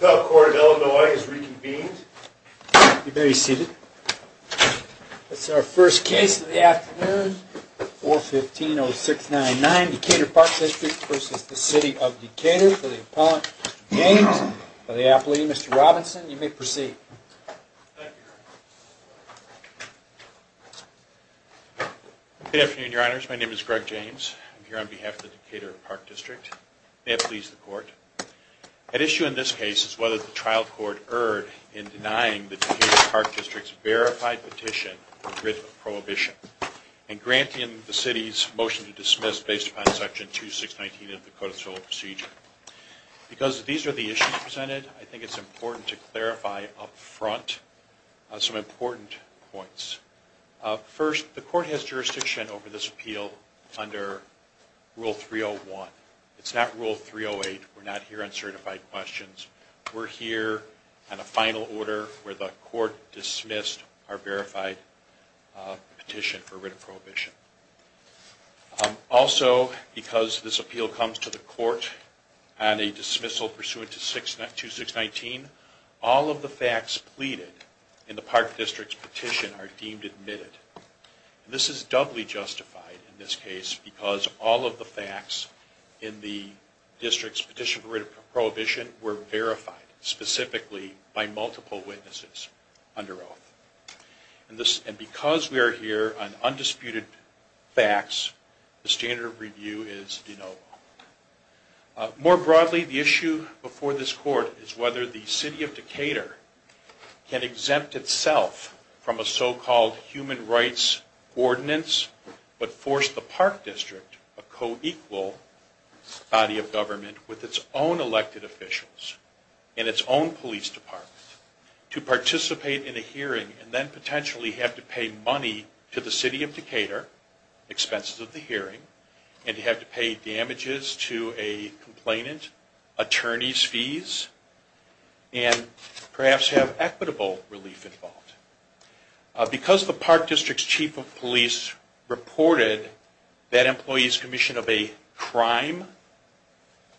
The court of Illinois is reconvened. You may be seated. That's our first case of the afternoon, 415-0699, Decatur Park District v. City of Decatur for the appellant, Mr. James. For the appellee, Mr. Robinson, you may proceed. Good afternoon, your honors. My name is Greg James. I'm here on behalf of the Decatur Park District. May it please the court. At issue in this case is whether the trial court erred in denying the Decatur Park District's verified petition for writ of prohibition and granting the City's motion to dismiss based upon Section 2619 of the Code of Civil Procedure. Because these are the issues presented, I think it's important to clarify up front some important points. First, the court has jurisdiction over this appeal under Rule 301. It's not Rule 308. We're not here on certified questions. We're here on a final order where the court dismissed our verified petition for writ of prohibition. Also, because this appeal comes to the court on a dismissal pursuant to 2619, all of the facts pleaded in the Park District's petition are deemed admitted. This is doubly justified in this case because all of the facts in the District's petition for writ of prohibition were verified, specifically by multiple witnesses under oath. And because we are here on undisputed facts, the standard of review is de novo. More broadly, the issue before this court is whether the City of Decatur can exempt itself from a so-called human rights ordinance, but force the Park District, a co-equal body of government with its own elected officials and its own police department, to participate in a hearing and then potentially have to pay money to the City of Decatur, expenses of the hearing, and have to pay damages to a complainant, attorney's fees, and perhaps have equitable relief involved. Because the Park District's Chief of Police reported that employee's commission of a crime,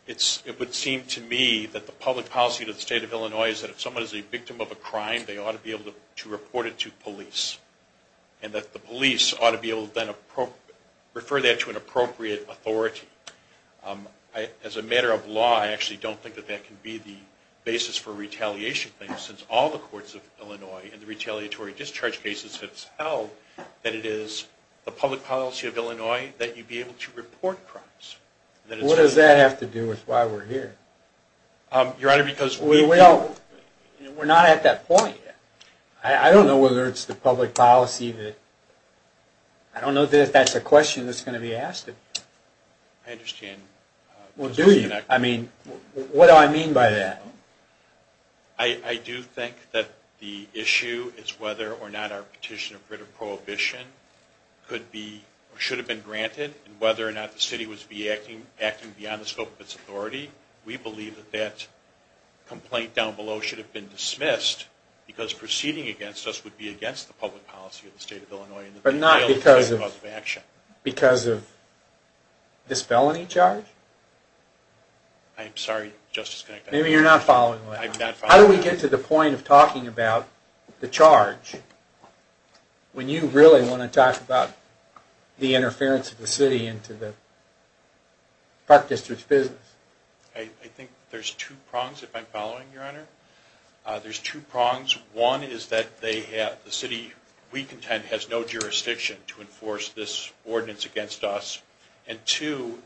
it would seem to me that the public policy of the State of Illinois is that if someone is a victim of a crime, they ought to be able to report it to police. And that the police ought to be able to then refer that to an appropriate authority. As a matter of law, I actually don't think that that can be the basis for retaliation, since all the courts of Illinois and the retaliatory discharge cases have held that it is the public policy of Illinois that you be able to report crimes. What does that have to do with why we're here? Your Honor, because... We're not at that point yet. I don't know whether it's the public policy that... I don't know if that's a question that's going to be asked of you. I understand. Well, do you? I mean, what do I mean by that? I do think that the issue is whether or not our petition of writ of prohibition could be, or should have been granted, and whether or not the city was acting beyond the scope of its authority. We believe that that complaint down below should have been dismissed, because proceeding against us would be against the public policy of the State of Illinois. But not because of... Because of this felony charge? I'm sorry, Justice... Maybe you're not following. I'm not following. How do we get to the point of talking about the charge, when you really want to talk about the interference of the city into the Park District's business? I think there's two prongs, if I'm following, Your Honor. There's two prongs. One is that the city we contend has no jurisdiction to enforce this ordinance against us. And two,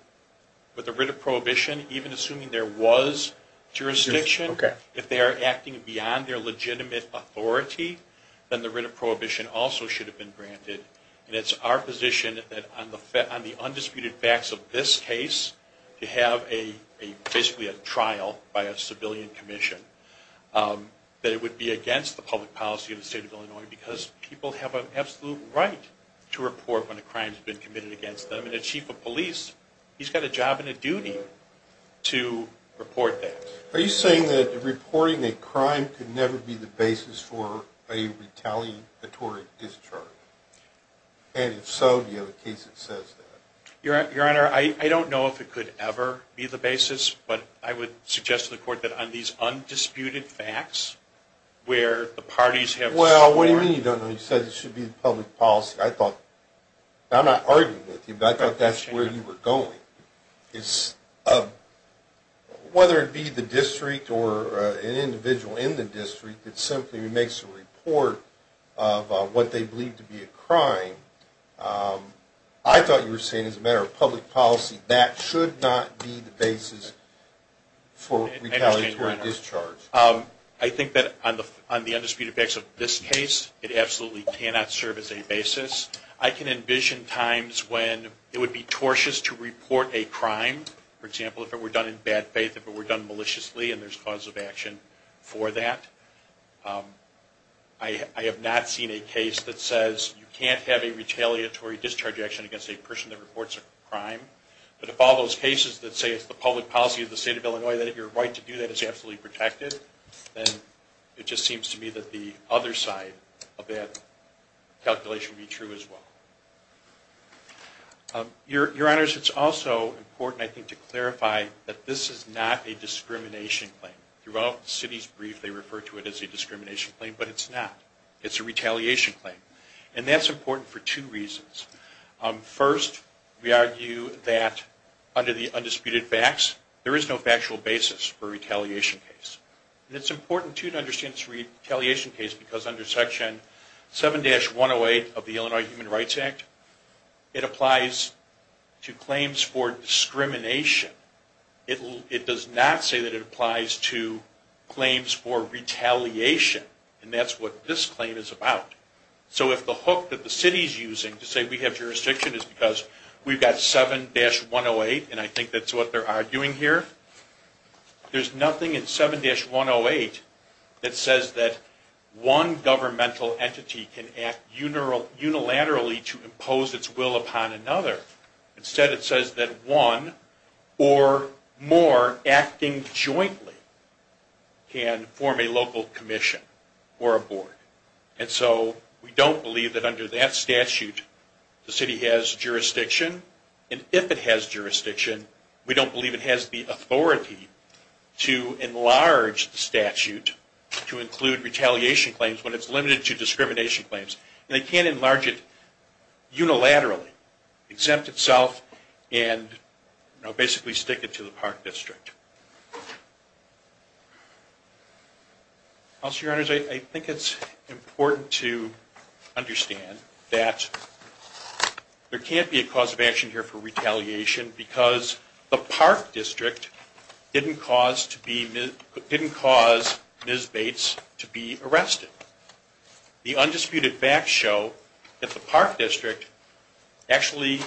with the writ of prohibition, even assuming there was jurisdiction, if they are acting beyond their legitimate authority, then the writ of prohibition also should have been granted. And it's our position that on the undisputed facts of this case, to have basically a trial by a civilian commission, that it would be against the public policy of the State of Illinois, because people have an absolute right to report when a crime has been committed against them. And a chief of police, he's got a job and a duty to report that. Are you saying that reporting a crime could never be the basis for a retaliatory discharge? And if so, do you have a case that says that? Your Honor, I don't know if it could ever be the basis, but I would suggest to the Court that on these undisputed facts, where the parties have sworn... Well, what do you mean you don't know? You said it should be the public policy. I thought... I'm not arguing with you, but I thought that's where you were going. Whether it be the district or an individual in the district that simply makes a report of what they believe to be a crime, I thought you were saying as a matter of public policy, that should not be the basis for retaliatory discharge. I think that on the undisputed facts of this case, it absolutely cannot serve as a basis. I can envision times when it would be tortious to report a crime. For example, if it were done in bad faith, if it were done maliciously, and there's cause of action for that. I have not seen a case that says you can't have a retaliatory discharge action against a person that reports a crime. But if all those cases that say it's the public policy of the State of Illinois that if you're right to do that, it's absolutely protected, then it just seems to me that the other side of that calculation would be true as well. Your Honors, it's also important, I think, to clarify that this is not a discrimination claim. Throughout the city's brief, they refer to it as a discrimination claim, but it's not. It's a retaliation claim. And that's important for two reasons. First, we argue that under the undisputed facts, there is no factual basis for a retaliation case. And it's important, too, to understand this retaliation case, because under Section 7-108 of the Illinois Human Rights Act, it applies to claims for discrimination. It does not say that it applies to claims for retaliation. And that's what this claim is about. So if the hook that the city is using to say we have jurisdiction is because we've got 7-108, and I think that's what they're arguing here, there's nothing in 7-108 that says that one governmental entity can act unilaterally to impose its will upon another. Instead, it says that one or more acting jointly can form a local commission or a board. And so we don't believe that under that statute the city has jurisdiction. And if it has jurisdiction, we don't believe it has the authority to enlarge the statute to include retaliation claims when it's limited to discrimination claims. And they can't enlarge it unilaterally, exempt itself and basically stick it to the park district. I think it's important to understand that there can't be a cause of action here for retaliation because the park district didn't cause Ms. Bates to be arrested. The undisputed facts show that the park district actually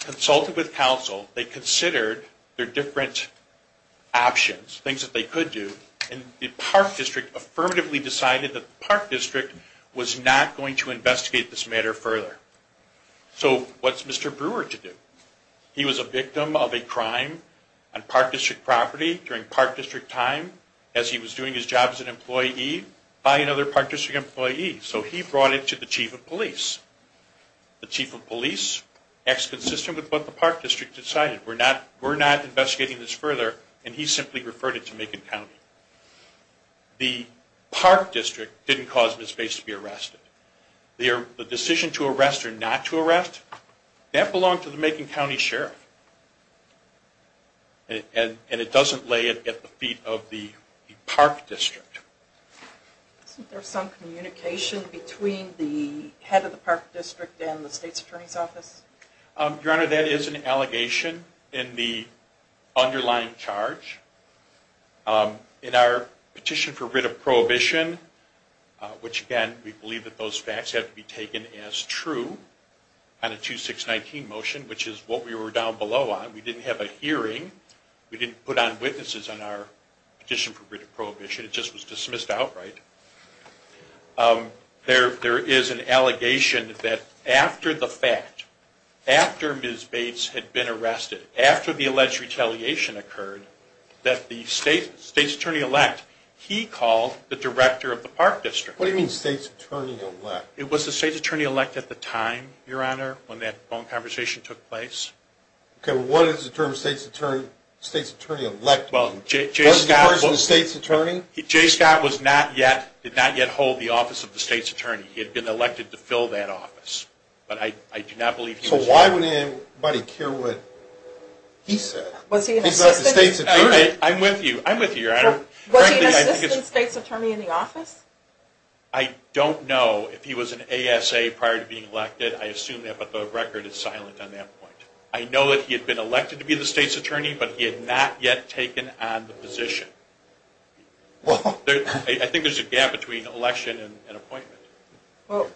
consulted with council. They considered their different options, things that they could do, and the park district affirmatively decided that the park district was not going to investigate this matter further. So what's Mr. Brewer to do? He was a victim of a crime on park district property during park district time as he was doing his job as an employee by another park district employee. So he brought it to the chief of police. The chief of police acts consistent with what the park district decided. We're not investigating this further, and he simply referred it to Macon County. The park district didn't cause Ms. Bates to be arrested. The decision to arrest or not to arrest, that belonged to the Macon County sheriff. And it doesn't lay at the feet of the park district. Isn't there some communication between the head of the park district and the state's attorney's office? Your Honor, that is an allegation in the underlying charge. In our petition for writ of prohibition, which, again, we believe that those facts have to be taken as true on a 2-6-19 motion, which is what we were down below on. We didn't have a hearing. We didn't put on witnesses on our petition for writ of prohibition. It just was dismissed outright. There is an allegation that after the fact, after Ms. Bates had been arrested, after the alleged retaliation occurred, that the state's attorney-elect, he called the director of the park district. What do you mean, state's attorney-elect? It was the state's attorney-elect at the time, Your Honor, when that phone conversation took place. Okay, well, what is the term state's attorney-elect? Well, J. Scott was not yet, did not yet hold the office of the state's attorney. He had been elected to fill that office, but I do not believe he was. So why would anybody care what he said? He's not the state's attorney. I'm with you, I'm with you, Your Honor. Was he an assistant state's attorney in the office? I don't know if he was an ASA prior to being elected. I assume that, but the record is silent on that point. I know that he had been elected to be the state's attorney, but he had not yet taken on the position. I think there's a gap between election and appointment. Well,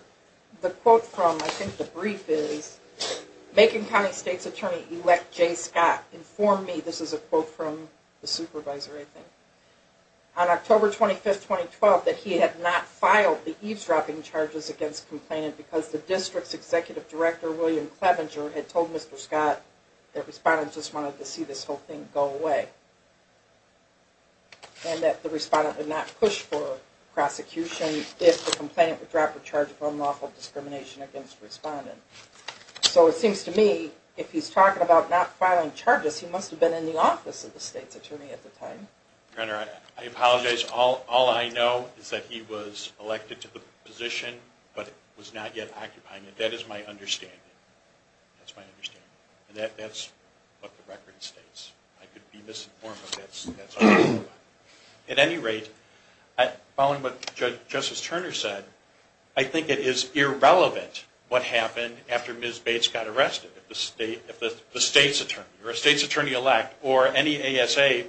the quote from, I think, the brief is, Macon County State's Attorney-Elect J. Scott informed me, this is a quote from the supervisor, I think, on October 25, 2012, that he had not filed the eavesdropping charges against complainant because the district's executive director, William Clevenger, had told Mr. Scott that respondents just wanted to see this whole thing go away and that the respondent would not push for prosecution if the complainant would drop a charge of unlawful discrimination against the respondent. So it seems to me if he's talking about not filing charges, he must have been in the office of the state's attorney at the time. Your Honor, I apologize. All I know is that he was elected to the position, but was not yet occupying it. That is my understanding. That's my understanding. And that's what the record states. I could be misinformed, but that's all I know about it. At any rate, following what Justice Turner said, I think it is irrelevant what happened after Ms. Bates got arrested. If the state's attorney or a state's attorney-elect or any ASA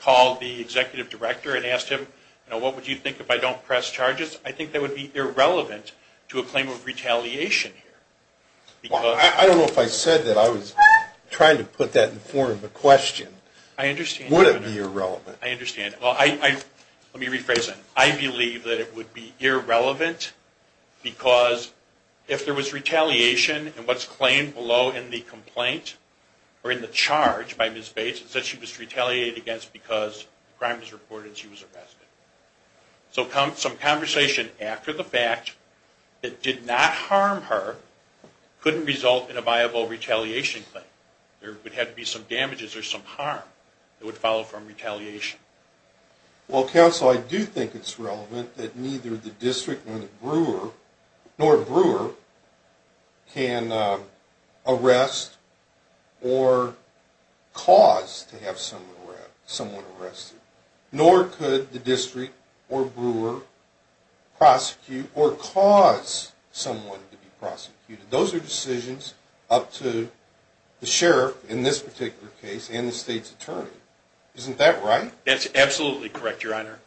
called the executive director and asked him, what would you think if I don't press charges, I think that would be irrelevant to a claim of retaliation here. I don't know if I said that. I was trying to put that in the form of a question. I understand. Would it be irrelevant? I understand. Let me rephrase that. I believe that it would be irrelevant because if there was retaliation and what's claimed below in the complaint or in the charge by Ms. Bates is that she was retaliated against because the crime was reported and she was arrested. So some conversation after the fact that did not harm her couldn't result in a viable retaliation claim. There would have to be some damages or some harm that would follow from retaliation. Well, counsel, I do think it's relevant that neither the district nor the brewer can arrest or cause to have someone arrested. Nor could the district or brewer prosecute or cause someone to be prosecuted. Those are decisions up to the sheriff in this particular case and the state's attorney. Isn't that right? That's absolutely correct, Your Honor.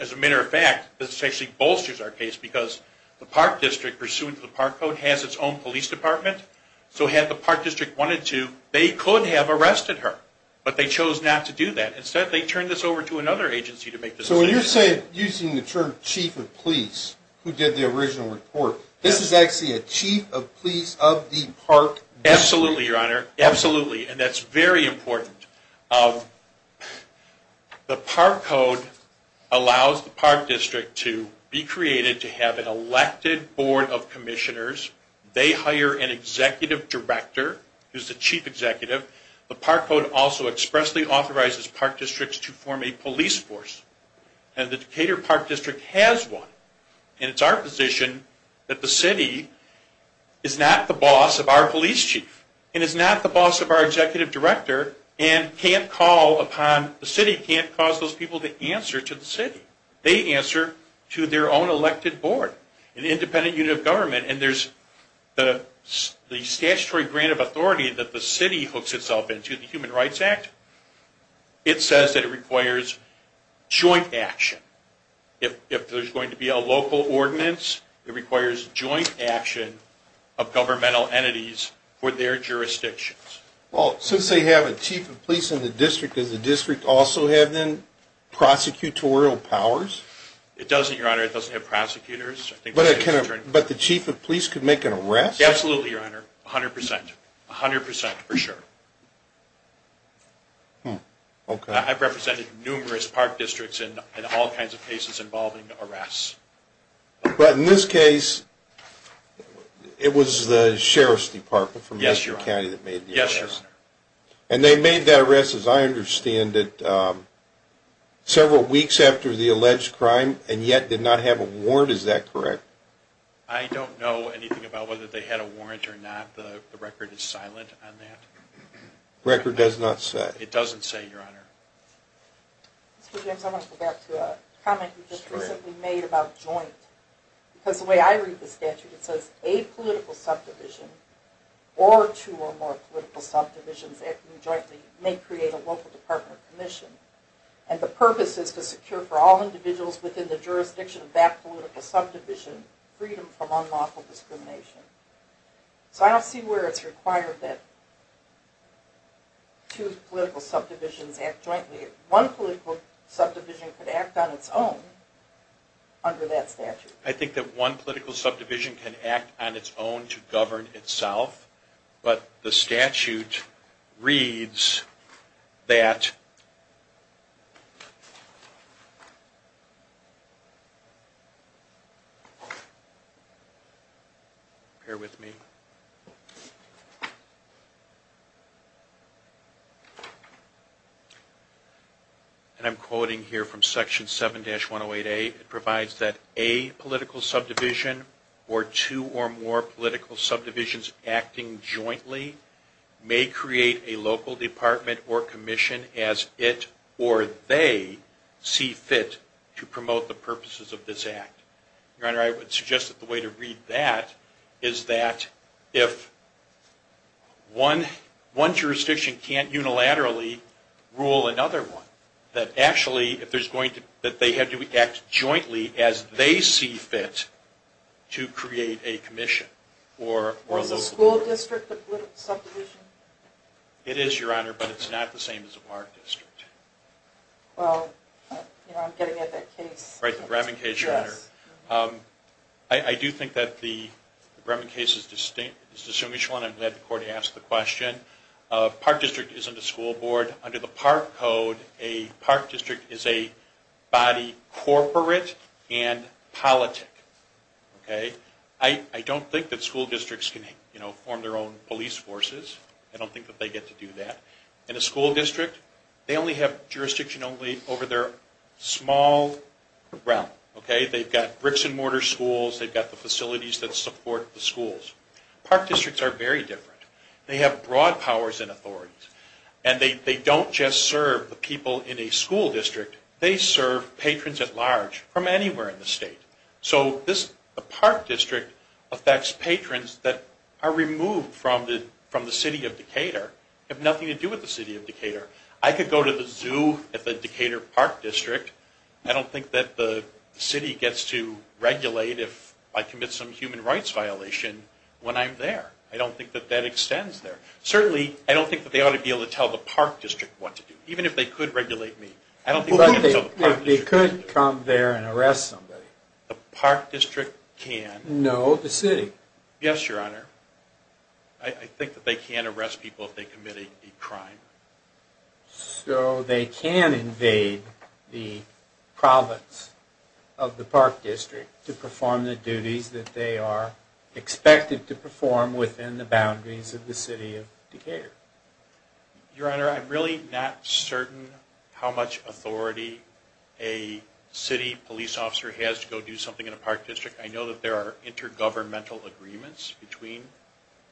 As a matter of fact, this actually bolsters our case because the park district, pursuant to the park code, has its own police department. So had the park district wanted to, they could have arrested her, but they chose not to do that. Instead, they turned this over to another agency to make this decision. So when you're saying using the term chief of police who did the original report, this is actually a chief of police of the park district? Absolutely, Your Honor. Absolutely. And that's very important. The park code allows the park district to be created to have an elected board of commissioners. They hire an executive director who's the chief executive. The park code also expressly authorizes park districts to form a police force. And the Decatur Park District has one. And it's our position that the city is not the boss of our police chief and is not the boss of our executive director and can't call upon the city, can't cause those people to answer to the city. They answer to their own elected board, an independent unit of government. And there's the statutory grant of authority that the city hooks itself into, the Human Rights Act. It says that it requires joint action. If there's going to be a local ordinance, it requires joint action of governmental entities for their jurisdictions. Well, since they have a chief of police in the district, does the district also have then prosecutorial powers? It doesn't, Your Honor. It doesn't have prosecutors. But the chief of police could make an arrest? Absolutely, Your Honor. A hundred percent. A hundred percent for sure. I've represented numerous park districts in all kinds of cases involving arrests. But in this case, it was the sheriff's department from Decatur County that made the arrest. Yes, Your Honor. And they made that arrest, as I understand it, several weeks after the alleged crime and yet did not have a warrant. Is that correct? I don't know anything about whether they had a warrant or not. The record is silent on that. The record does not say. It doesn't say, Your Honor. Mr. James, I want to go back to a comment you just recently made about joint. Because the way I read the statute, it says a political subdivision or two or more political subdivisions acting jointly may create a local department commission. And the purpose is to secure for all individuals within the jurisdiction of that political subdivision freedom from unlawful discrimination. So I don't see where it's required that two political subdivisions act jointly. One political subdivision could act on its own under that statute. I think that one political subdivision can act on its own to govern itself. But the statute reads that, Bear with me. And I'm quoting here from Section 7-108A. It provides that a political subdivision or two or more political subdivisions acting jointly may create a local department or commission as it or they see fit to promote the purposes of this act. Your Honor, I would suggest that the way to read that is that if one jurisdiction can't unilaterally rule another one, that actually they have to act jointly as they see fit to create a commission. Or is a school district a political subdivision? It is, Your Honor, but it's not the same as a park district. Well, you know, I'm getting at that case. Right, the Brevin case, Your Honor. I do think that the Brevin case is distinct. I'm glad the court asked the question. A park district isn't a school board. Under the park code, a park district is a body corporate and politic. I don't think that school districts can form their own police forces. I don't think that they get to do that. In a school district, they only have jurisdiction over their small realm. They've got bricks and mortar schools. They've got the facilities that support the schools. Park districts are very different. They have broad powers and authorities. And they don't just serve the people in a school district. They serve patrons at large from anywhere in the state. So the park district affects patrons that are removed from the city of Decatur, have nothing to do with the city of Decatur. I could go to the zoo at the Decatur Park District. I don't think that the city gets to regulate if I commit some human rights violation when I'm there. I don't think that that extends there. Certainly, I don't think that they ought to be able to tell the park district what to do, even if they could regulate me. But they could come there and arrest somebody. The park district can. No, the city. Yes, Your Honor. I think that they can arrest people if they commit a crime. So they can invade the province of the park district to perform the duties that they are expected to perform within the boundaries of the city of Decatur. Your Honor, I'm really not certain how much authority a city police officer has to go do something in a park district. I know that there are intergovernmental agreements between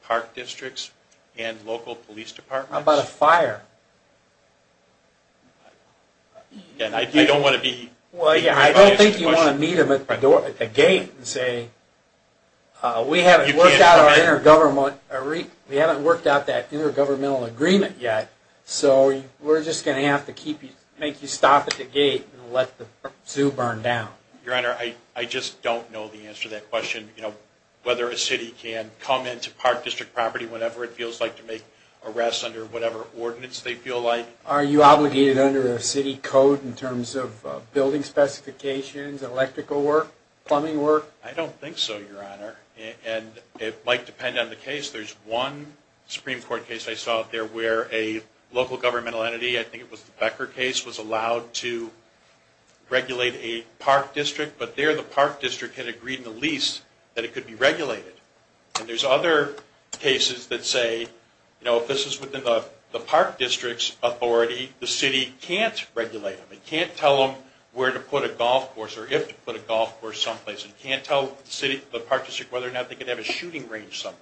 park districts and local police departments. How about a fire? I don't think you want to meet them at the gate and say, We haven't worked out that intergovernmental agreement yet, so we're just going to have to make you stop at the gate and let the zoo burn down. Your Honor, I just don't know the answer to that question, whether a city can come into park district property whenever it feels like to make arrests under whatever ordinance they feel like. Are you obligated under a city code in terms of building specifications, electrical work, plumbing work? I don't think so, Your Honor, and it might depend on the case. There's one Supreme Court case I saw out there where a local governmental entity, I think it was the Becker case, was allowed to regulate a park district, but there the park district had agreed in the lease that it could be regulated. And there's other cases that say, you know, if this is within the park district's authority, the city can't regulate them. It can't tell them where to put a golf course or if to put a golf course someplace. It can't tell the park district whether or not they could have a shooting range somewhere.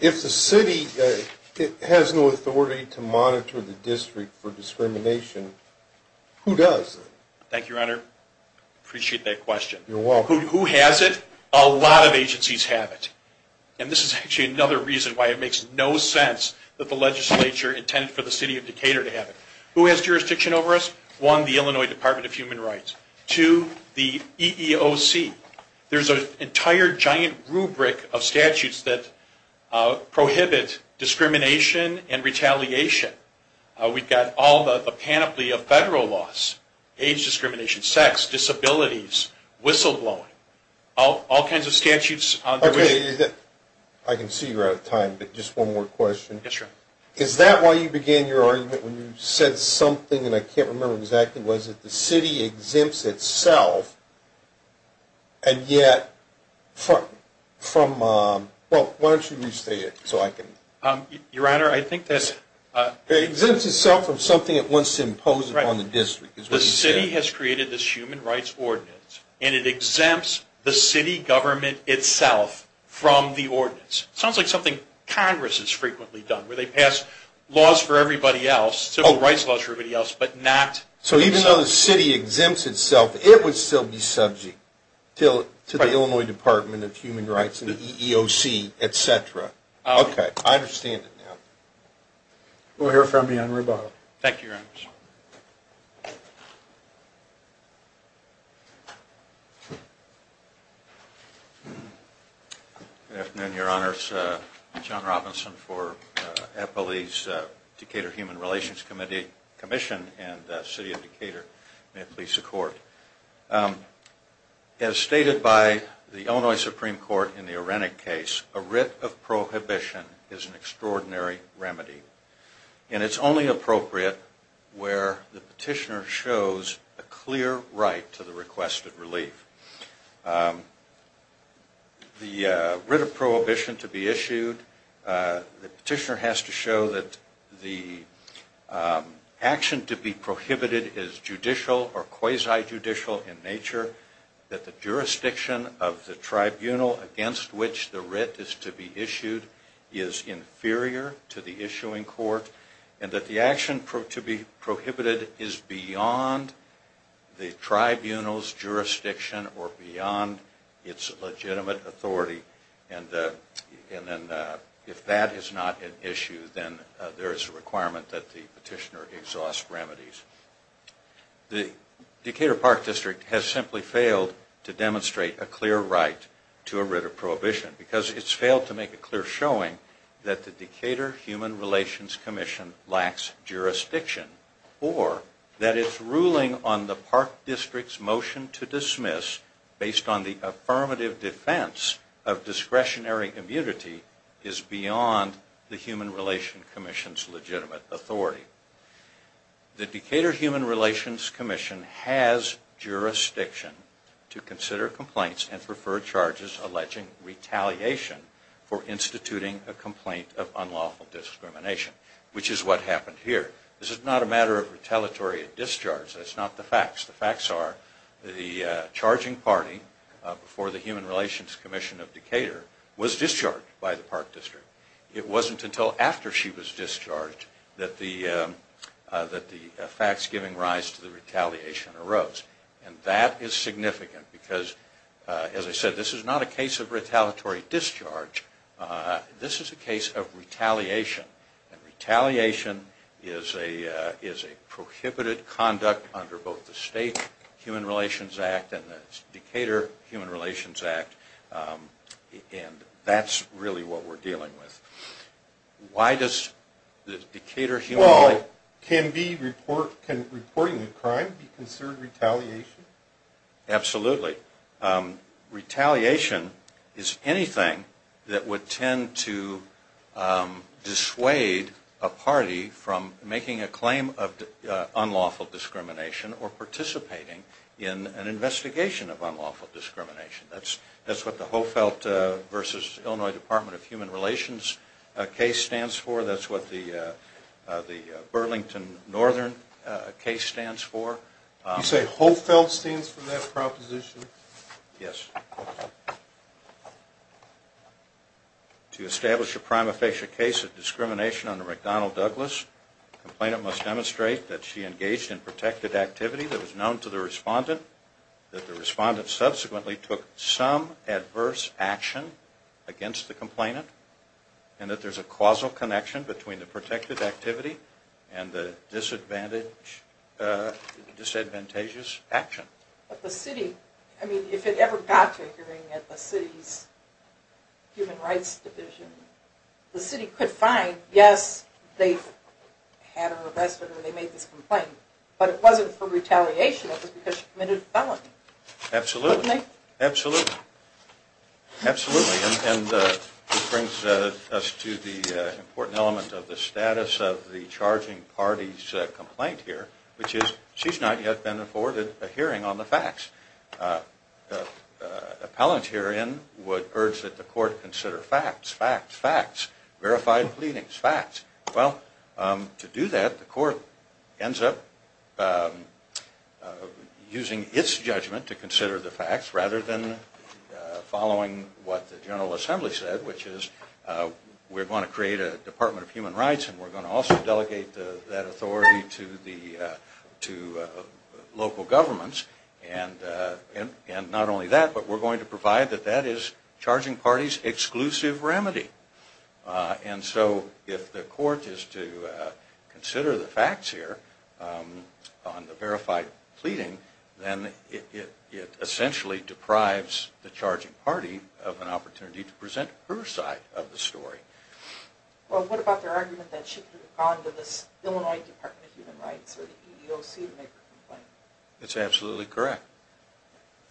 If the city has no authority to monitor the district for discrimination, who does? Thank you, Your Honor. I appreciate that question. You're welcome. Who has it? A lot of agencies have it, and this is actually another reason why it makes no sense that the legislature intended for the city of Decatur to have it. Who has jurisdiction over us? One, the Illinois Department of Human Rights. Two, the EEOC. There's an entire giant rubric of statutes that prohibit discrimination and retaliation. We've got all the panoply of federal laws, age discrimination, sex, disabilities, whistleblowing, all kinds of statutes. I can see you're out of time, but just one more question. Yes, sir. Is that why you began your argument when you said something, and I can't remember exactly, was that the city exempts itself, and yet from – well, why don't you restate it so I can – Your Honor, I think that's – It exempts itself from something it wants to impose upon the district, is what you said. The city has created this human rights ordinance, and it exempts the city government itself from the ordinance. It sounds like something Congress has frequently done, where they pass laws for everybody else, civil rights laws for everybody else, but not – So even though the city exempts itself, it would still be subject to the Illinois Department of Human Rights and the EEOC, et cetera. Okay, I understand it now. We'll hear from you on rebuttal. Thank you, Your Honors. Good afternoon, Your Honors. John Robinson for Eppley's Decatur Human Relations Commission and the City of Decatur. May it please the Court. As stated by the Illinois Supreme Court in the Arenek case, a writ of prohibition is an extraordinary remedy, where the petitioner shows a clear right to the request of relief. The writ of prohibition to be issued – the petitioner has to show that the action to be prohibited is judicial or quasi-judicial in nature, that the jurisdiction of the tribunal against which the writ is to be issued is inferior to the issuing court, and that the action to be prohibited is beyond the tribunal's jurisdiction or beyond its legitimate authority. And if that is not an issue, then there is a requirement that the petitioner exhaust remedies. The Decatur Park District has simply failed to demonstrate a clear right to a writ of prohibition because it has failed to make a clear showing that the Decatur Human Relations Commission lacks jurisdiction or that its ruling on the Park District's motion to dismiss, based on the affirmative defense of discretionary immunity, is beyond the Human Relations Commission's legitimate authority. The Decatur Human Relations Commission has jurisdiction to consider complaints and prefer charges alleging retaliation for instituting a complaint of unlawful discrimination, which is what happened here. This is not a matter of retaliatory discharge. That's not the facts. The facts are the charging party before the Human Relations Commission of Decatur was discharged by the Park District. It wasn't until after she was discharged that the facts giving rise to the retaliation arose. And that is significant because, as I said, this is not a case of retaliatory discharge. This is a case of retaliation. And retaliation is a prohibited conduct under both the State Human Relations Act and the Decatur Human Relations Act. And that's really what we're dealing with. Why does the Decatur Human Relations... Well, can reporting a crime be considered retaliation? Absolutely. Retaliation is anything that would tend to dissuade a party from making a claim of unlawful discrimination or participating in an investigation of unlawful discrimination. That's what the Hohfeldt v. Illinois Department of Human Relations case stands for. That's what the Burlington Northern case stands for. You say Hohfeldt stands for that proposition? Yes. To establish a prima facie case of discrimination under McDonnell Douglas, the complainant must demonstrate that she engaged in protected activity that was known to the respondent, that the respondent subsequently took some adverse action against the complainant, and that there's a causal connection between the protected activity and the disadvantageous action. But the city... I mean, if it ever got to a hearing at the city's human rights division, the city could find, yes, they had her arrested or they made this complaint, but it wasn't for retaliation, it was because she committed a felony. Absolutely. And this brings us to the important element of the status of the charging party's complaint here, which is she's not yet been afforded a hearing on the facts. Appellant herein would urge that the court consider facts, facts, facts, verified pleadings, facts. Well, to do that, the court ends up using its judgment to consider the facts rather than following what the General Assembly said, which is we're going to create a Department of Human Rights and we're going to also delegate that authority to local governments. And not only that, but we're going to provide that that is charging parties' exclusive remedy. And so if the court is to consider the facts here on the verified pleading, then it essentially deprives the charging party of an opportunity to present her side of the story. Well, what about their argument that she could have gone to the Illinois Department of Human Rights or the EEOC to make a complaint? It's absolutely correct.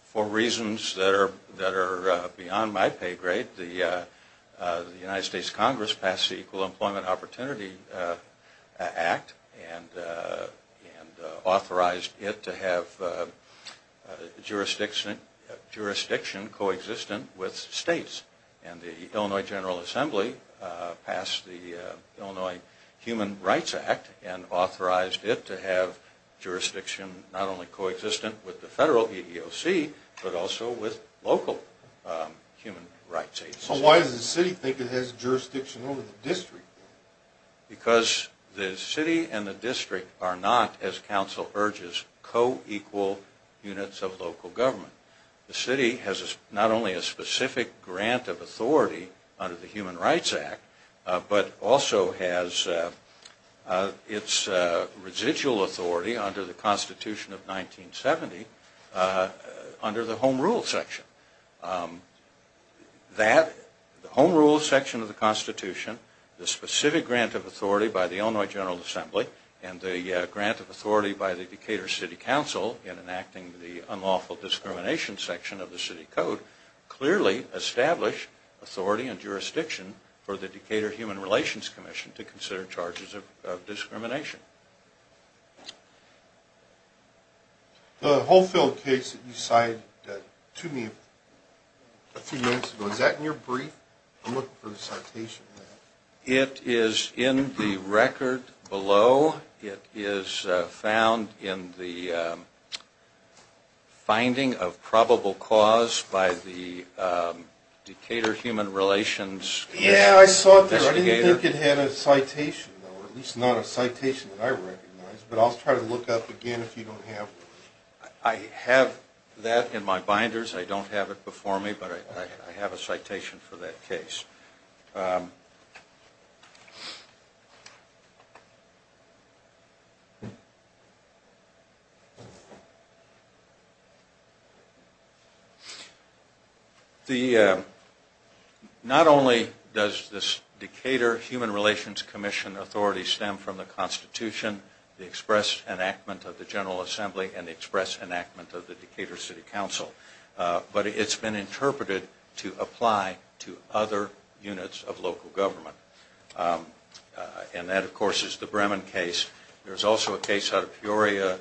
For reasons that are beyond my pay grade, the United States Congress passed the Equal Employment Opportunity Act and authorized it to have jurisdiction coexistent with states. And the Illinois General Assembly passed the Illinois Human Rights Act and authorized it to have jurisdiction not only coexistent with the federal EEOC, but also with local human rights agencies. So why does the city think it has jurisdiction over the district? Because the city and the district are not, as counsel urges, co-equal units of local government. The city has not only a specific grant of authority under the Human Rights Act, but also has its residual authority under the Constitution of 1970 under the Home Rule section. That Home Rule section of the Constitution, the specific grant of authority by the Illinois General Assembly, and the grant of authority by the Decatur City Council in enacting the unlawful discrimination section of the city code, clearly establish authority and jurisdiction for the Decatur Human Relations Commission to consider charges of discrimination. The Holfield case that you cited to me a few minutes ago, is that in your brief? I'm looking for the citation. It is in the record below. It is found in the finding of probable cause by the Decatur Human Relations Commission. Yeah, I saw it there. I didn't think it had a citation, or at least not a citation that I recognize. But I'll try to look up again if you don't have it. I have that in my binders. I don't have it before me, but I have a citation for that case. Not only does this Decatur Human Relations Commission authority stem from the Constitution, the express enactment of the General Assembly, and the express enactment of the Decatur City Council, but it's been interpreted to apply to other units of local government. And that, of course, is the Bremen case. There's also a case out of Peoria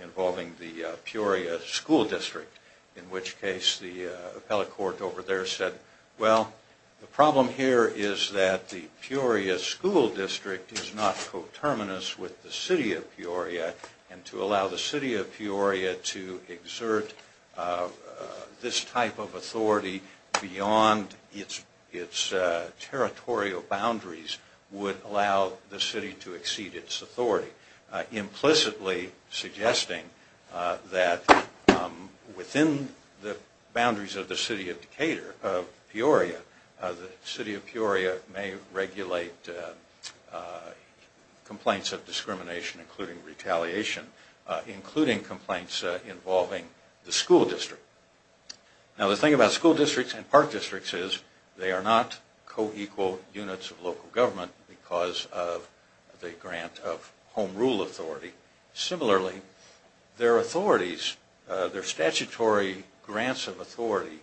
involving the Peoria School District, in which case the appellate court over there said, well, the problem here is that the Peoria School District is not coterminous with the City of Peoria, and to allow the City of Peoria to exert this type of authority beyond its territorial boundaries would allow the city to exceed its authority, implicitly suggesting that within the boundaries of the City of Peoria, the City of Peoria may regulate complaints of discrimination, including retaliation, including complaints involving the school district. Now the thing about school districts and park districts is they are not co-equal units of local government because of the grant of home rule authority. Similarly, their authorities, their statutory grants of authority,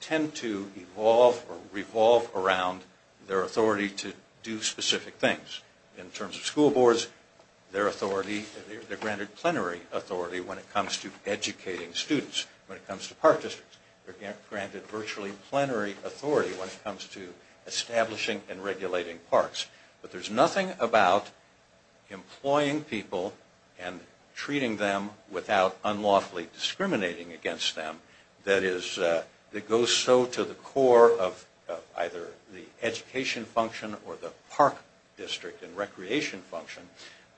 tend to evolve or revolve around their authority to do specific things. In terms of school boards, they're granted plenary authority when it comes to educating students. When it comes to park districts, they're granted virtually plenary authority when it comes to establishing and regulating parks. But there's nothing about employing people and treating them without unlawfully discriminating against them that goes so to the core of either the education function or the park district and recreation function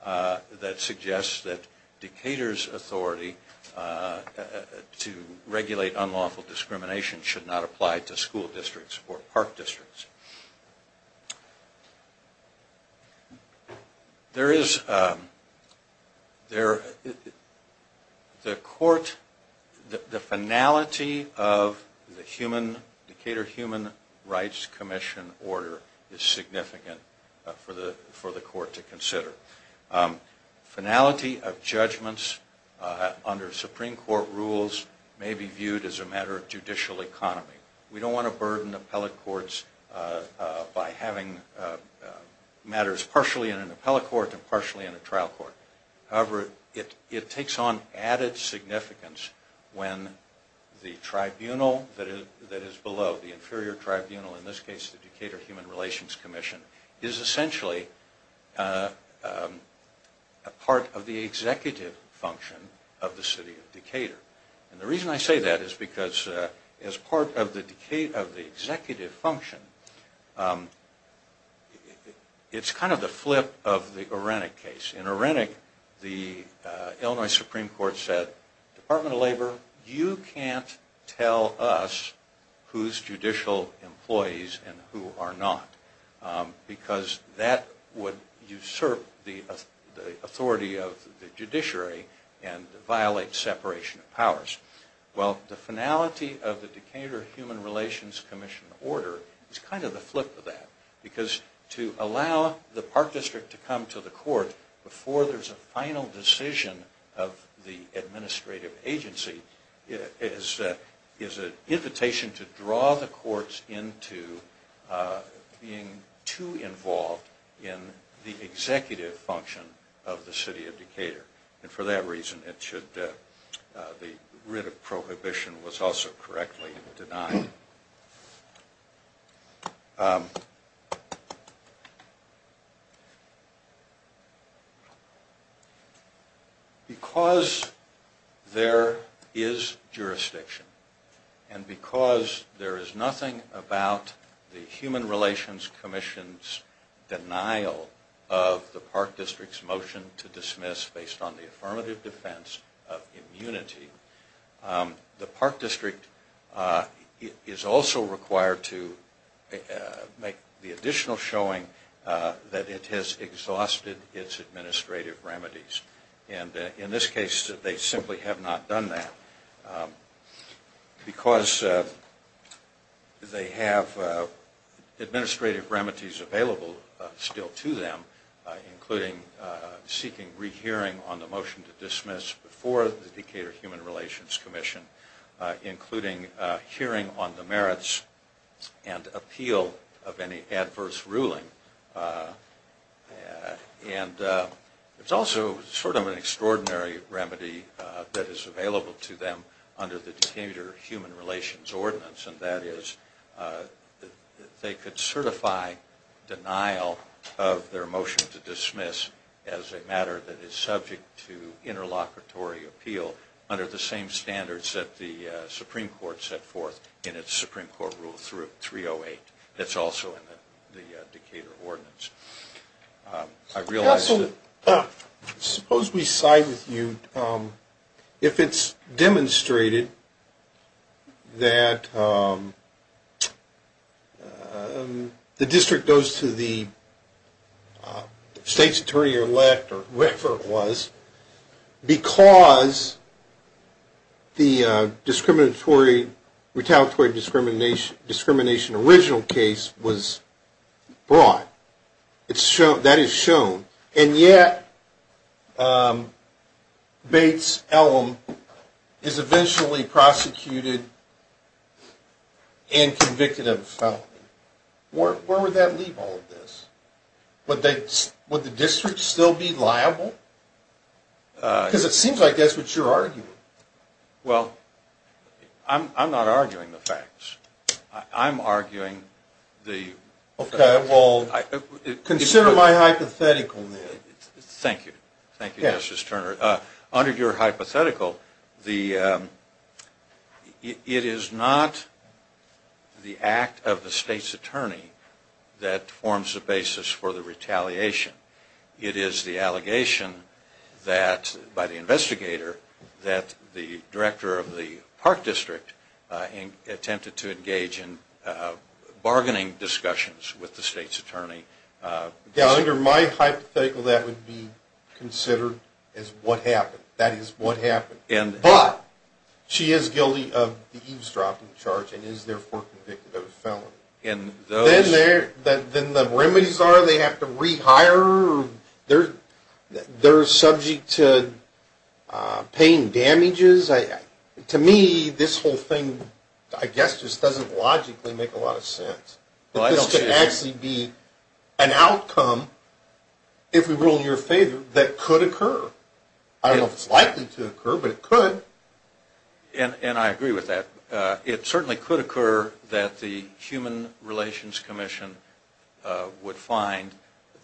that suggests that Decatur's authority to regulate unlawful discrimination should not apply to school districts or park districts. The finality of the Decatur Human Rights Commission order is significant for the court to consider. Finality of judgments under Supreme Court rules may be viewed as a matter of judicial economy. We don't want to burden appellate courts by having matters partially in an appellate court and partially in a trial court. However, it takes on added significance when the tribunal that is below, the inferior tribunal, in this case the Decatur Human Relations Commission, is essentially a part of the executive function of the city of Decatur. And the reason I say that is because as part of the executive function, it's kind of the flip of the Arenik case. In Arenik, the Illinois Supreme Court said, Department of Labor, you can't tell us who's judicial employees and who are not. Because that would usurp the authority of the judiciary and violate separation of powers. Well, the finality of the Decatur Human Relations Commission order is kind of the flip of that. Because to allow the park district to come to the court before there's a final decision of the administrative agency is an invitation to draw the courts into being too involved in the executive function of the city of Decatur. And for that reason, the writ of prohibition was also correctly denied. Because there is jurisdiction, and because there is nothing about the Human Relations Commission's denial of the park district's motion to dismiss based on the affirmative defense of immunity, the park district is also required to make the additional showing that it has exhausted its administrative remedies. And in this case, they simply have not done that. Because they have administrative remedies available still to them, including seeking rehearing on the motion to dismiss before the Decatur Human Relations Commission, including hearing on the merits and appeal of any adverse ruling. And it's also sort of an extraordinary remedy that is available to them under the Decatur Human Relations Ordinance. And that is, they could certify denial of their motion to dismiss as a matter that is subject to interlocutory appeal under the same standards that the Supreme Court set forth in its Supreme Court Rule 308. It's also in the Decatur Ordinance. I realize that... was brought. That is shown. And yet, Bates-Ellum is eventually prosecuted and convicted of a felony. Where would that leave all of this? Would the district still be liable? Because it seems like that's what you're arguing. Well, I'm not arguing the facts. I'm arguing the... Okay, well, consider my hypothetical, then. Thank you. Thank you, Justice Turner. Under your hypothetical, it is not the act of the state's attorney that forms the basis for the retaliation. It is the allegation that, by the investigator, that the director of the Park District attempted to engage in bargaining discussions with the state's attorney. Yeah, under my hypothetical, that would be considered as what happened. That is what happened. But she is guilty of the eavesdropping charge and is therefore convicted of a felony. Then the remedies are they have to rehire or they're subject to pain damages. To me, this whole thing, I guess, just doesn't logically make a lot of sense. This could actually be an outcome, if we were all in your favor, that could occur. I don't know if it's likely to occur, but it could. And I agree with that. It certainly could occur that the Human Relations Commission would find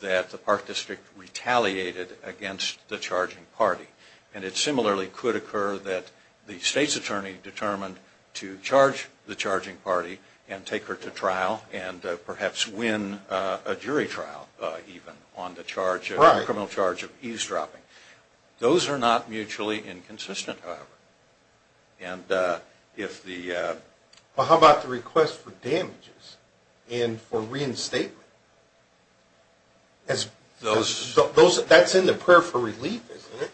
that the Park District retaliated against the charging party. And it similarly could occur that the state's attorney determined to charge the charging party and take her to trial and perhaps win a jury trial, even, on the criminal charge of eavesdropping. Well, how about the request for damages and for reinstatement? That's in the prayer for relief, isn't it?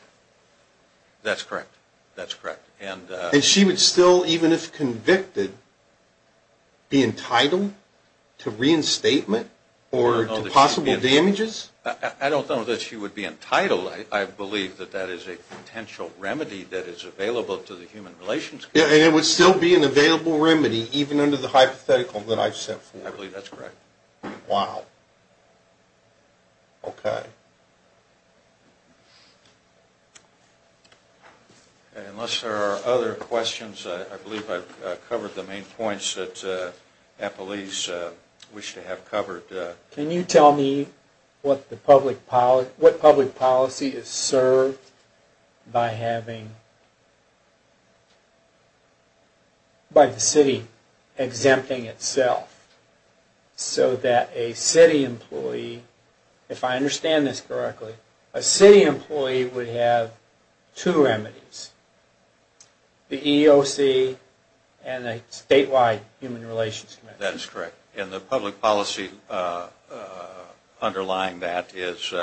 That's correct. And she would still, even if convicted, be entitled to reinstatement or to possible damages? I don't know that she would be entitled. I believe that that is a potential remedy that is available to the Human Relations Commission. And it would still be an available remedy, even under the hypothetical that I've set forth? I believe that's correct. Wow. Okay. Unless there are other questions, I believe I've covered the main points that Appleese wished to have covered. Can you tell me what public policy is served by the city exempting itself? So that a city employee, if I understand this correctly, a city employee would have two remedies. The EEOC and the statewide Human Relations Commission. That is correct. And the public policy underlying that is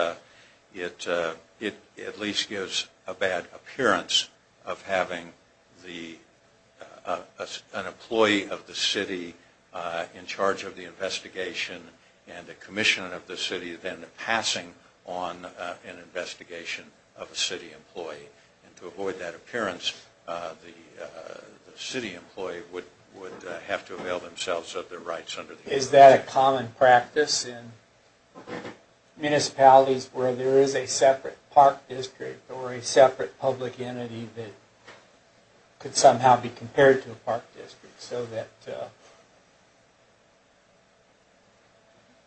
it at least gives a bad appearance of having an employee of the city in charge of the investigation and a commissioner of the city then passing on an investigation of a city employee. And to avoid that appearance, the city employee would have to avail themselves of their rights under the EEOC. Is that a common practice in municipalities where there is a separate park district or a separate public entity that could somehow be compared to a park district? So that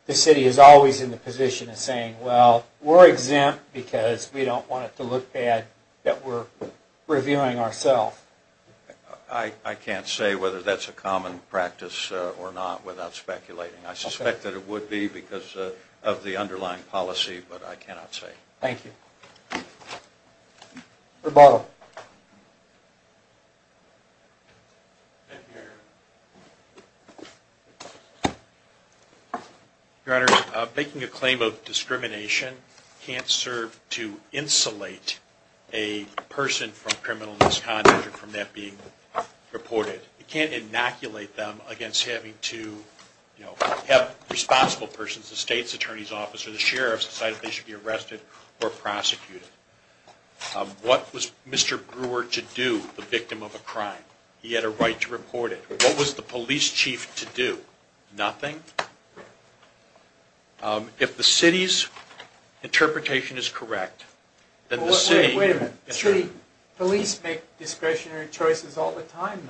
the city is always in the position of saying, well, we're exempt because we don't want it to look bad that we're reviewing ourselves. I can't say whether that's a common practice or not without speculating. I suspect that it would be because of the underlying policy, but I cannot say. Thank you. Your Honor, making a claim of discrimination can't serve to insulate a person from criminal misconduct or from that being reported. It can't inoculate them against having to have responsible persons, the state's attorney's office or the sheriff's decide if they should be arrested or prosecuted. What was Mr. Brewer to do, the victim of a crime? He had a right to report it. What was the police chief to do? Nothing. If the city's interpretation is correct, then the city... Wait a minute. Police make discretionary choices all the time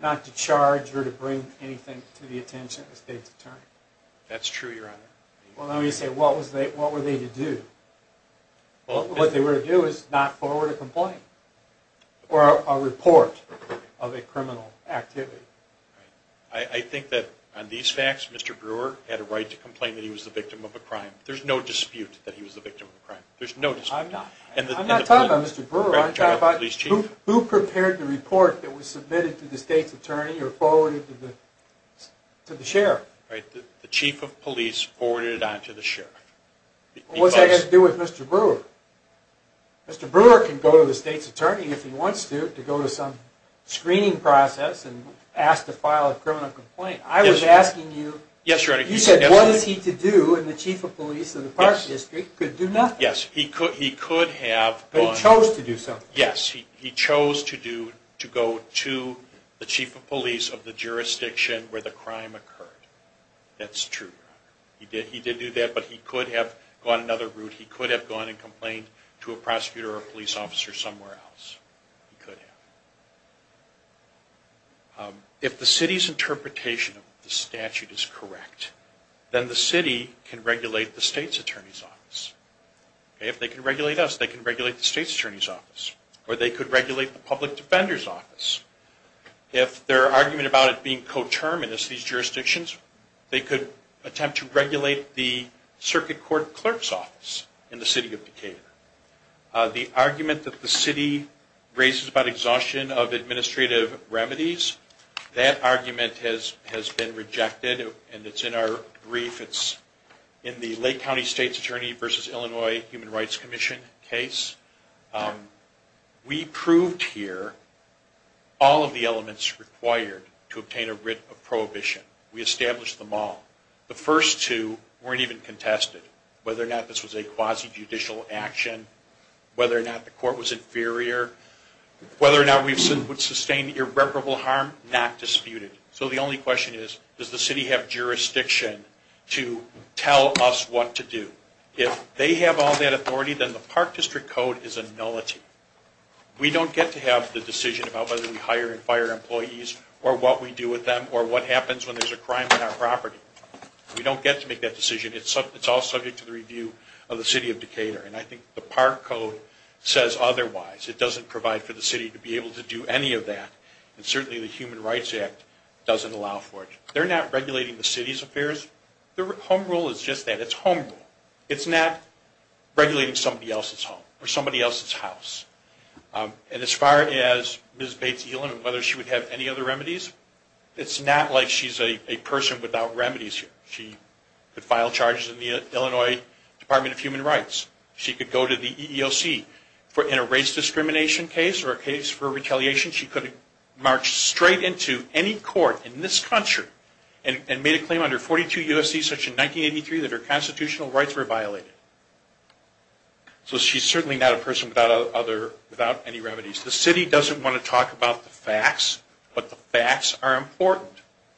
not to charge or to bring anything to the attention of the state's attorney. That's true, Your Honor. What were they to do? What they were to do is not forward a complaint or a report of a criminal activity. I think that on these facts, Mr. Brewer had a right to complain that he was the victim of a crime. There's no dispute that he was the victim of a crime. There's no dispute. I'm not talking about Mr. Brewer. I'm talking about who prepared the report that was submitted to the state's attorney or forwarded to the sheriff. The chief of police forwarded it on to the sheriff. What's that got to do with Mr. Brewer? Mr. Brewer can go to the state's attorney if he wants to, to go to some screening process and ask to file a criminal complaint. I was asking you... Yes, Your Honor. You said what is he to do and the chief of police of the Park District could do nothing. Yes, he could have... But he chose to do something. Yes, he chose to go to the chief of police of the jurisdiction where the crime occurred. That's true, Your Honor. He did do that, but he could have gone another route. He could have gone and complained to a prosecutor or a police officer somewhere else. He could have. If the city's interpretation of the statute is correct, then the city can regulate the state's attorney's office. If they can regulate us, they can regulate the state's attorney's office. Or they could regulate the public defender's office. If their argument about it being coterminous, these jurisdictions, they could attempt to regulate the circuit court clerk's office in the city of Decatur. The argument that the city raises about exhaustion of administrative remedies, that argument has been rejected and it's in our brief. It's in the Lake County State's Attorney v. Illinois Human Rights Commission case. We proved here all of the elements required to obtain a writ of prohibition. We established them all. The first two weren't even contested. Whether or not this was a quasi-judicial action, whether or not the court was inferior, whether or not we would sustain irreparable harm, not disputed. So the only question is, does the city have jurisdiction to tell us what to do? If they have all that authority, then the Park District Code is a nullity. We don't get to have the decision about whether we hire and fire employees or what we do with them or what happens when there's a crime on our property. We don't get to make that decision. It's all subject to the review of the city of Decatur. And I think the Park Code says otherwise. It doesn't provide for the city to be able to do any of that. And certainly the Human Rights Act doesn't allow for it. They're not regulating the city's affairs. The home rule is just that. It's home rule. It's not regulating somebody else's home or somebody else's house. And as far as Ms. Bates-Elan and whether she would have any other remedies, it's not like she's a person without remedies here. She could file charges in the Illinois Department of Human Rights. She could go to the EEOC in a race discrimination case or a case for retaliation. She could march straight into any court in this country and make a claim under 42 U.S.C. section 1983 that her constitutional rights were violated. So she's certainly not a person without any remedies. The city doesn't want to talk about the facts, but the facts are important.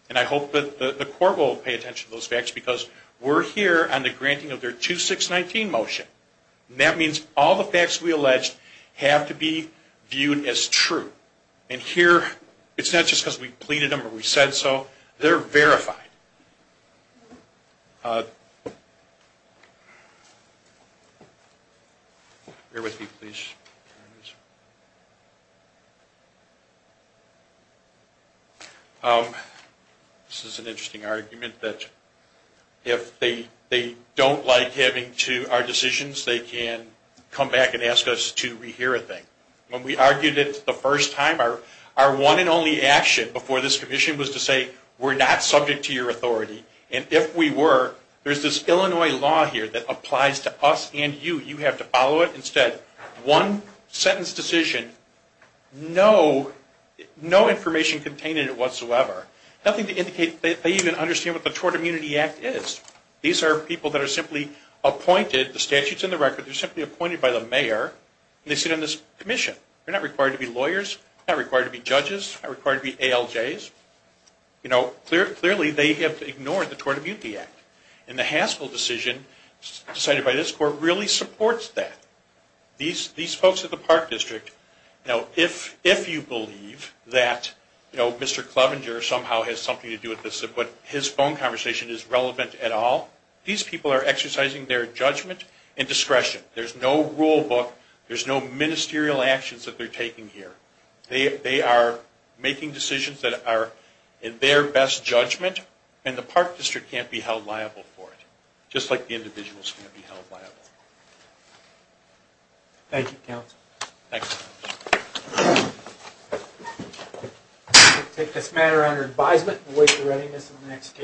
And I hope that the court will pay attention to those facts because we're here on the granting of their 2619 motion. And that means all the facts we allege have to be viewed as true. And here it's not just because we pleaded them or we said so. They're verified. Bear with me, please. This is an interesting argument that if they don't like having to our decisions, they can come back and ask us to rehear a thing. When we argued it the first time, our one and only action before this commission was to say we're not subject to your authority. And if we were, there's this Illinois law here that applies to us and you. You have to follow it. Instead, one sentence decision, no information contained in it whatsoever. Nothing to indicate they even understand what the Tort Immunity Act is. These are people that are simply appointed. The statute's in the record. They're simply appointed by the mayor and they sit on this commission. They're not required to be lawyers. They're not required to be judges. They're not required to be ALJs. Clearly, they have ignored the Tort Immunity Act. And the Haskell decision decided by this court really supports that. These folks at the Park District, if you believe that Mr. Clevenger somehow has something to do with this but his phone conversation is relevant at all, these people are exercising their judgment and discretion. There's no rule book. There's no ministerial actions that they're taking here. They are making decisions that are in their best judgment and the Park District can't be held liable for it, just like the individuals can't be held liable. Thank you, counsel. Thanks. We'll take this matter under advisement and wait for readiness in the next case.